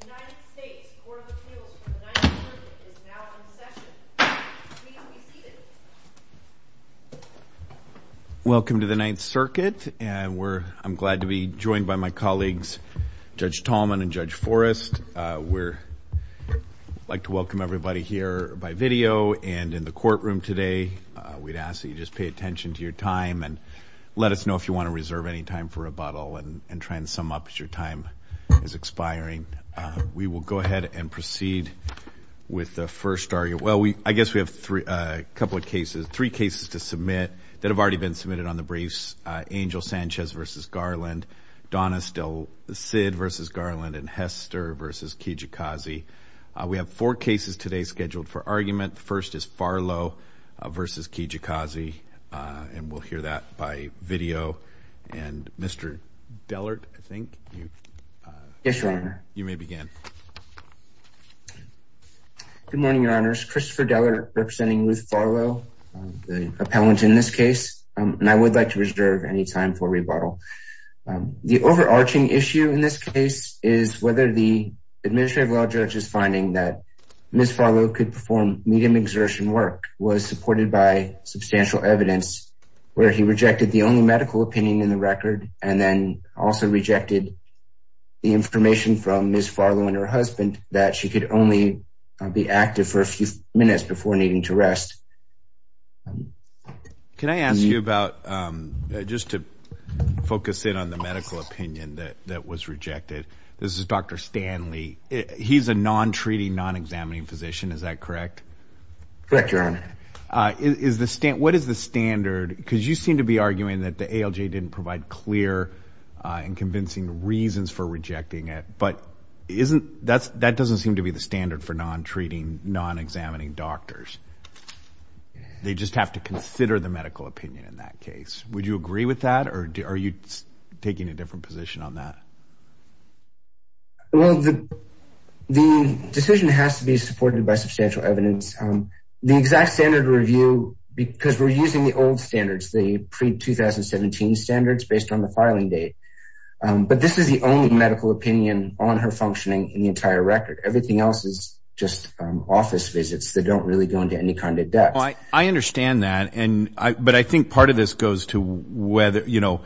The United States Court of Appeals for the Ninth Circuit is now in session. Please be seated. Welcome to the Ninth Circuit. I'm glad to be joined by my colleagues Judge Tallman and Judge Forrest. We'd like to welcome everybody here by video and in the courtroom today. We'd ask that you just pay attention to your time and let us know if you want to reserve any time for rebuttal and try and sum up as your time is expiring. We will go ahead and proceed with the first argument. Well, I guess we have three cases to submit that have already been submitted on the briefs, Angel Sanchez v. Garland, Donna Sid v. Garland, and Hester v. Kijakazi. We have four cases today scheduled for argument. The first is Farlow v. Kijakazi, and we'll hear that by video. And Mr. Dellert, I think, you may begin. Good morning, Your Honors. Christopher Dellert representing Ruth Farlow, the appellant in this case. And I would like to reserve any time for rebuttal. The overarching issue in this case is whether the administrative law judge's finding that Ms. Farlow could perform medium exertion work was supported by substantial evidence where he rejected the only medical opinion in the record and then also rejected the information from Ms. Farlow and her husband that she could only be active for a few minutes before needing to rest. Can I ask you about, just to focus in on the medical opinion that was rejected? This is Dr. Stanley. He's a non-treating, non-examining physician, is that correct? Correct, Your Honor. What is the standard, because you seem to be arguing that the ALJ didn't provide clear and convincing reasons for rejecting it, but that doesn't seem to be the standard for non-treating, non-examining doctors. They just have to consider the medical opinion in that case. Would you agree with that, or are you taking a different position on that? Well, the decision has to be supported by substantial evidence. The exact standard review, because we're using the old standards, the pre-2017 standards based on the filing date, but this is the only medical opinion on her functioning in the entire record. Everything else is just office visits that don't really go into any kind of depth. I understand that, but I think part of this goes to whether, you know,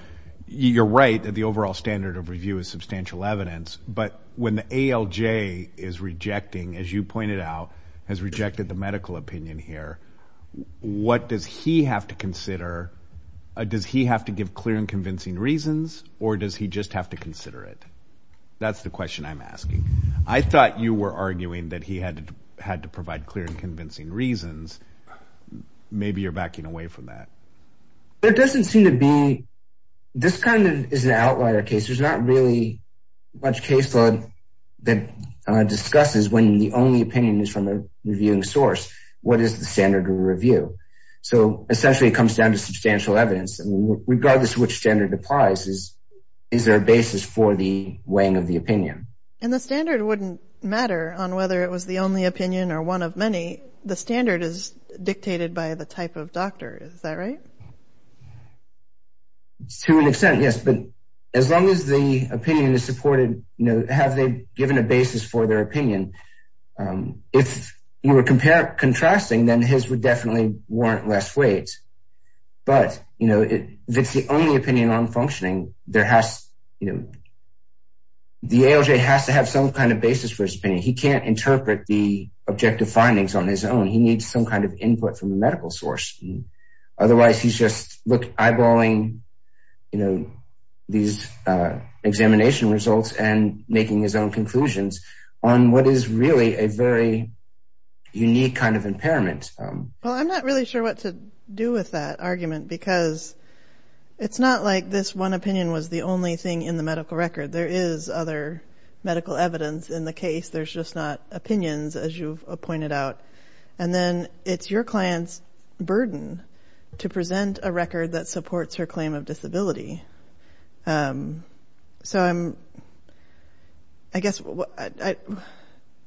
you're right that the overall standard of review is substantial evidence, but when the ALJ is rejecting, as you pointed out, has rejected the medical opinion here, what does he have to consider? Does he have to give clear and convincing reasons, or does he just have to consider it? That's the question I'm asking. I thought you were arguing that he had to provide clear and convincing reasons. Maybe you're backing away from that. There doesn't seem to be – this kind of is an outlier case. There's not really much caseload that discusses, when the only opinion is from a reviewing source, what is the standard of review. So, essentially, it comes down to substantial evidence. Regardless of which standard applies, is there a basis for the weighing of the opinion? And the standard wouldn't matter on whether it was the only opinion or one of many. The standard is dictated by the type of doctor. Is that right? To an extent, yes, but as long as the opinion is supported, you know, have they given a basis for their opinion? If you were contrasting, then his would definitely warrant less weight, but, you know, if it's the only opinion on functioning, the ALJ has to have some kind of basis for his opinion. He can't interpret the objective findings on his own. He needs some kind of input from a medical source. Otherwise, he's just eyeballing these examination results and making his own conclusions on what is really a very unique kind of impairment. Well, I'm not really sure what to do with that argument because it's not like this one opinion was the only thing in the medical record. There is other medical evidence in the case. There's just not opinions, as you've pointed out. And then it's your client's burden to present a record that supports her claim of disability. So I guess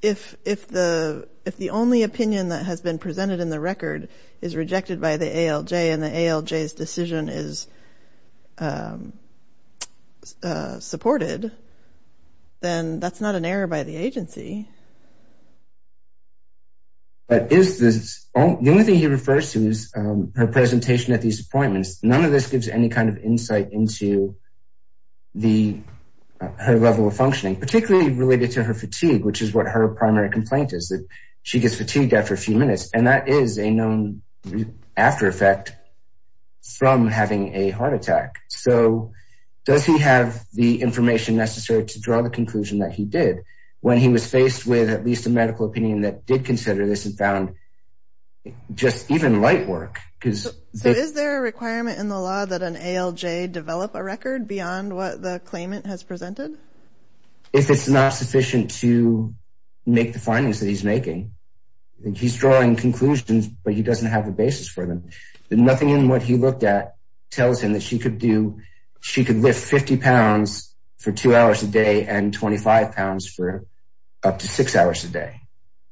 if the only opinion that has been presented in the record is rejected by the ALJ and the ALJ's decision is supported, then that's not an error by the agency. The only thing he refers to is her presentation at these appointments. None of this gives any kind of insight into her level of functioning, particularly related to her fatigue, which is what her primary complaint is, that she gets fatigued after a few minutes. And that is a known after effect from having a heart attack. So does he have the information necessary to draw the conclusion that he did? When he was faced with at least a medical opinion that did consider this and found just even light work. So is there a requirement in the law that an ALJ develop a record beyond what the claimant has presented? If it's not sufficient to make the findings that he's making. He's drawing conclusions, but he doesn't have a basis for them. Nothing in what he looked at tells him that she could lift 50 pounds for two hours a day and 25 pounds for up to six hours a day.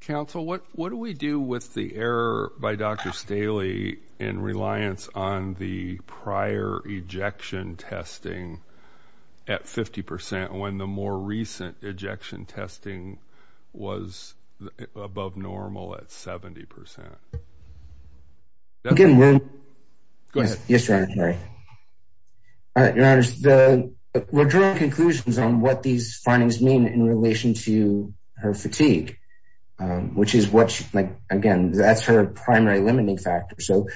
Counsel, what do we do with the error by Dr. Staley in reliance on the prior ejection testing at 50% when the more recent ejection testing was above normal at 70%? We're drawing conclusions on what these findings mean in relation to her fatigue, which is what, again, that's her primary limiting factor. So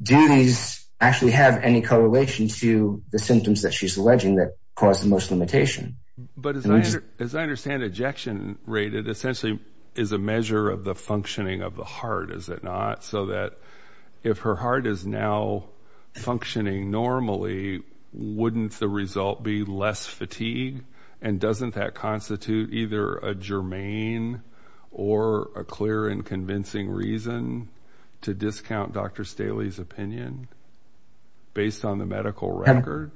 do these actually have any correlation to the symptoms that she's alleging that cause the most limitation? But as I understand ejection rate, it essentially is a measure of the functioning of the heart, is it not? So that if her heart is now functioning normally, wouldn't the result be less fatigue? And doesn't that constitute either a germane or a clear and convincing reason to discount Dr. Staley's opinion based on the medical record?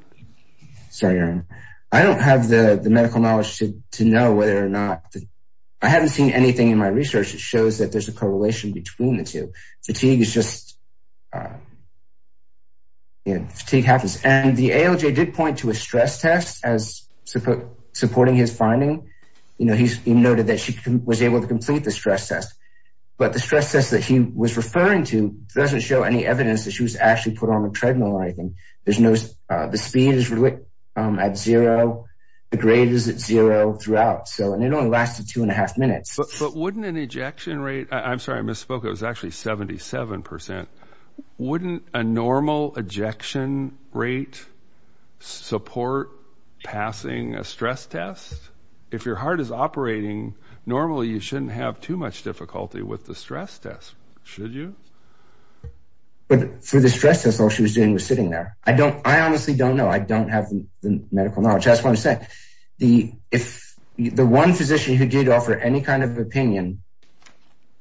Sorry, Aaron. I don't have the medical knowledge to know whether or not. I haven't seen anything in my research that shows that there's a correlation between the two. Fatigue is just, fatigue happens. And the ALJ did point to a stress test as supporting his finding. He noted that she was able to complete the stress test. But the stress test that he was referring to doesn't show any evidence that she was actually put on a treadmill or anything. The speed is at zero. The grade is at zero throughout. And it only lasted two and a half minutes. But wouldn't an ejection rate, I'm sorry, I misspoke. It was actually 77%. Wouldn't a normal ejection rate support passing a stress test? If your heart is operating normally, you shouldn't have too much difficulty with the stress test, should you? But for the stress test, all she was doing was sitting there. I honestly don't know. I don't have the medical knowledge. I just want to say, if the one physician who did offer any kind of opinion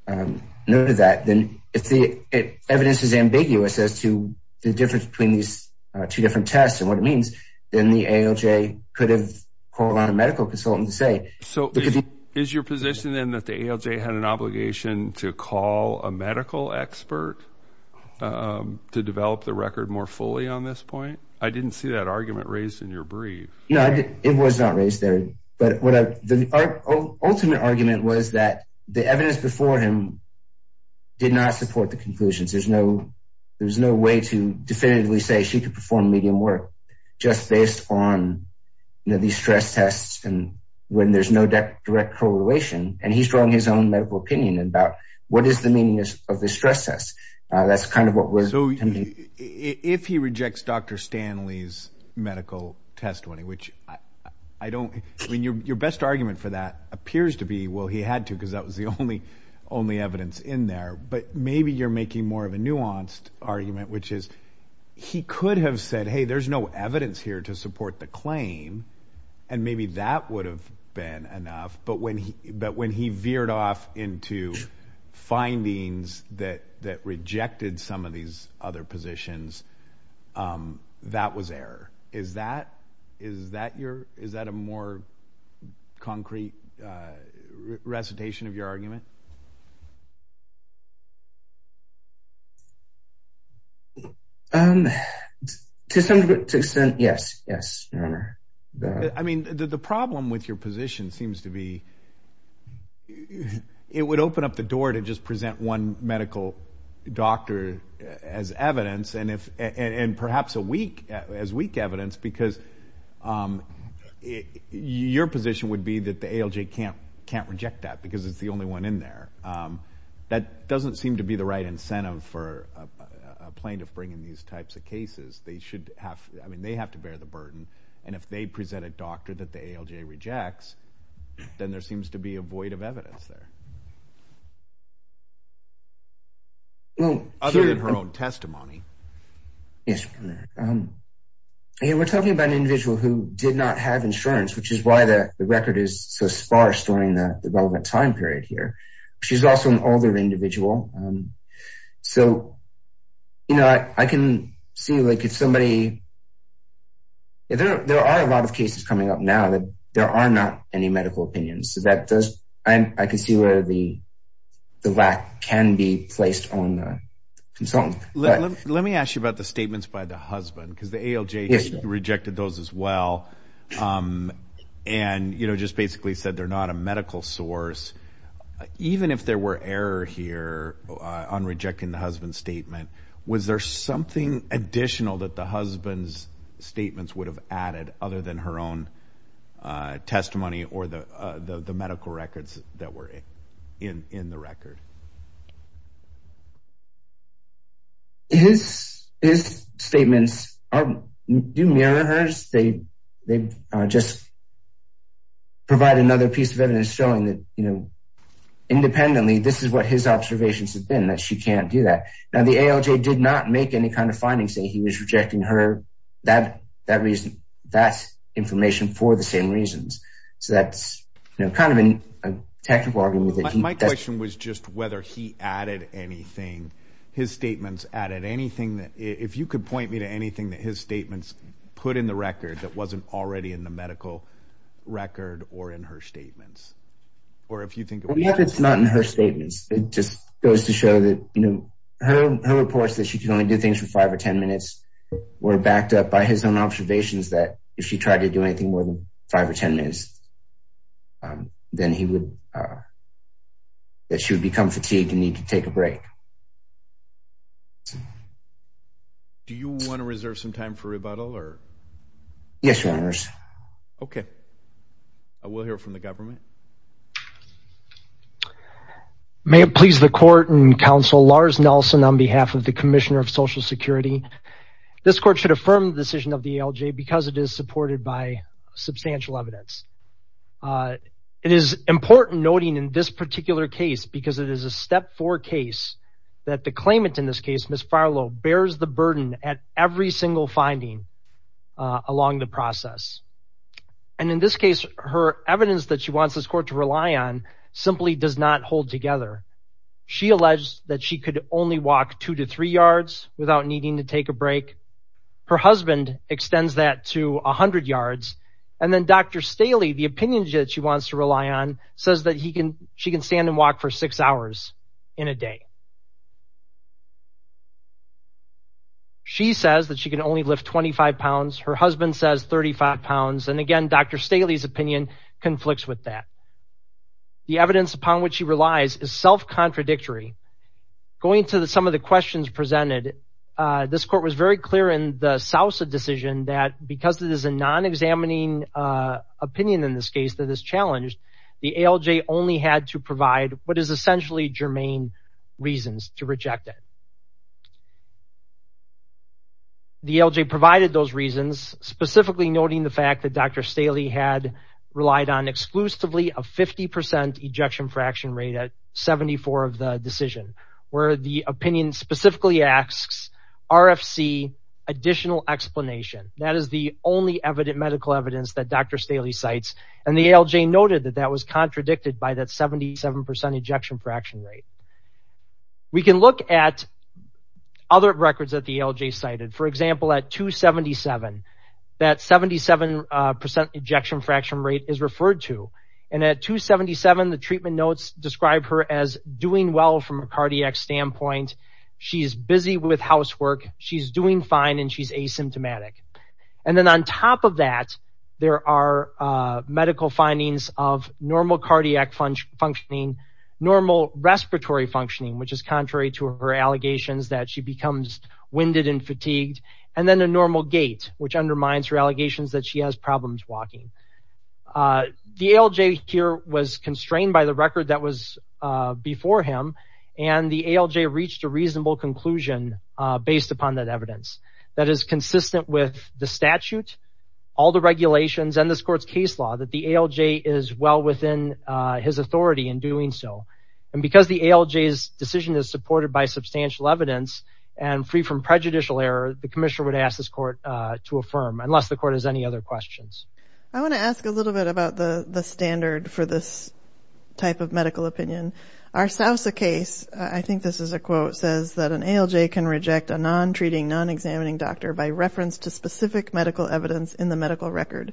noted that, then if the evidence is ambiguous as to the difference between these two different tests and what it means, then the ALJ could have called on a medical consultant to say. So is your position then that the ALJ had an obligation to call a medical expert to develop the record more fully on this point? I didn't see that argument raised in your brief. No, it was not raised there. But the ultimate argument was that the evidence before him did not support the conclusions. There's no way to definitively say she could perform medium work just based on these stress tests when there's no direct correlation, and he's drawing his own medical opinion about what is the meaning of the stress test. That's kind of what was intended. So if he rejects Dr. Stanley's medical test, which your best argument for that appears to be, well, he had to because that was the only evidence in there, but maybe you're making more of a nuanced argument, which is he could have said, hey, there's no evidence here to support the claim, and maybe that would have been enough. But when he veered off into findings that rejected some of these other positions, that was error. Is that a more concrete recitation of your argument? To some extent, yes, yes. I mean, the problem with your position seems to be it would open up the door to just present one medical doctor as evidence and perhaps as weak evidence because your position would be that the ALJ can't reject that because it's the only one in there. That doesn't seem to be the right incentive for a plaintiff bringing these types of cases. I mean, they have to bear the burden, and if they present a doctor that the ALJ rejects, then there seems to be a void of evidence there, other than her own testimony. Yes, we're talking about an individual who did not have insurance, which is why the record is so sparse during the relevant time period here. She's also an older individual. So, you know, I can see, like, if somebody – there are a lot of cases coming up now that there are not any medical opinions. So that does – I can see where the lack can be placed on the consultant. Let me ask you about the statements by the husband because the ALJ rejected those as well and, you know, just basically said they're not a medical source. Even if there were error here on rejecting the husband's statement, was there something additional that the husband's statements would have added, other than her own testimony or the medical records that were in the record? His statements do mirror hers. They just provide another piece of evidence showing that, you know, independently, this is what his observations have been, that she can't do that. Now, the ALJ did not make any kind of findings saying he was rejecting her. That's information for the same reasons. So that's, you know, kind of a technical argument. My question was just whether he added anything. His statements added anything that – if you could point me to anything that his statements put in the record that wasn't already in the medical record or in her statements. Or if you think – If it's not in her statements, it just goes to show that, you know, her reports that she could only do things for 5 or 10 minutes were backed up by his own observations that if she tried to do anything more than 5 or 10 minutes, then he would – that she would become fatigued and need to take a break. Do you want to reserve some time for rebuttal? Yes, Your Honors. Okay. We'll hear from the government. May it please the Court and Counsel, Lars Nelson on behalf of the Commissioner of Social Security. This Court should affirm the decision of the ALJ because it is supported by substantial evidence. It is important noting in this particular case, because it is a Step 4 case, that the claimant in this case, Ms. Farlow, bears the burden at every single finding along the process. And in this case, her evidence that she wants this Court to rely on simply does not hold together. She alleged that she could only walk 2 to 3 yards without needing to take a break. Her husband extends that to 100 yards. And then Dr. Staley, the opinion that she wants to rely on, says that she can stand and walk for 6 hours in a day. She says that she can only lift 25 pounds. Her husband says 35 pounds. And again, Dr. Staley's opinion conflicts with that. The evidence upon which she relies is self-contradictory. Going to some of the questions presented, this Court was very clear in the Sousa decision that because it is a non-examining opinion in this case that is challenged, the ALJ only had to provide what is essentially germane reasons to reject it. The ALJ provided those reasons, specifically noting the fact that Dr. Staley had relied on exclusively a 50% ejection fraction rate at 74 of the decision, where the opinion specifically asks RFC additional explanation. That is the only medical evidence that Dr. Staley cites. And the ALJ noted that that was contradicted by that 77% ejection fraction rate. We can look at other records that the ALJ cited. For example, at 277, that 77% ejection fraction rate is referred to. And at 277, the treatment notes describe her as doing well from a cardiac standpoint. She's busy with housework. She's doing fine, and she's asymptomatic. And then on top of that, there are medical findings of normal cardiac functioning, normal respiratory functioning, which is contrary to her allegations that she becomes winded and fatigued, and then a normal gait, which undermines her allegations that she has problems walking. The ALJ here was constrained by the record that was before him, and the ALJ reached a reasonable conclusion based upon that evidence that is consistent with the statute, all the regulations, and this court's case law, that the ALJ is well within his authority in doing so. And because the ALJ's decision is supported by substantial evidence and free from prejudicial error, the commissioner would ask this court to affirm, unless the court has any other questions. I want to ask a little bit about the standard for this type of medical opinion. Our Sousa case, I think this is a quote, says that an ALJ can reject a non-treating, non-examining doctor by reference to specific medical evidence in the medical record.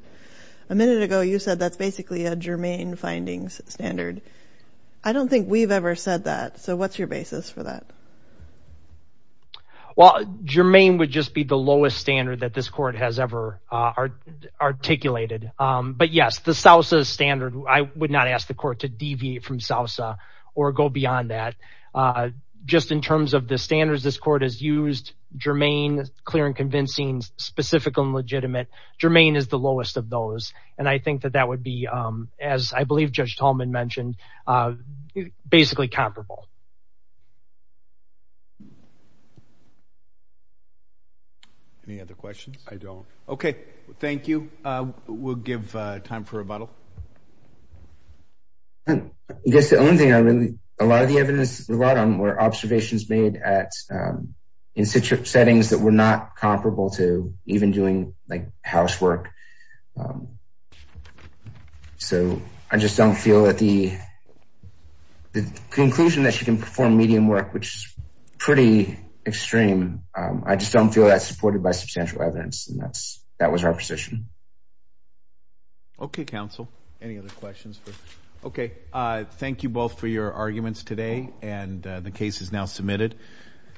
A minute ago, you said that's basically a Germain findings standard. I don't think we've ever said that, so what's your basis for that? Well, Germain would just be the lowest standard that this court has ever articulated. But yes, the Sousa standard, I would not ask the court to deviate from Sousa or go beyond that. Just in terms of the standards this court has used, Germain, clear and convincing, specific and legitimate, Germain is the lowest of those. And I think that that would be, as I believe Judge Tolman mentioned, basically comparable. Any other questions? I don't. Okay, thank you. We'll give time for rebuttal. I guess the only thing I really, a lot of the evidence we brought on were observations made in settings that were not comparable to even doing, like, housework. So I just don't feel that the conclusion that she can perform medium work, which is pretty extreme, I just don't feel that's supported by substantial evidence. And that was our position. Okay, counsel. Any other questions? Okay, thank you both for your arguments today, and the case is now submitted.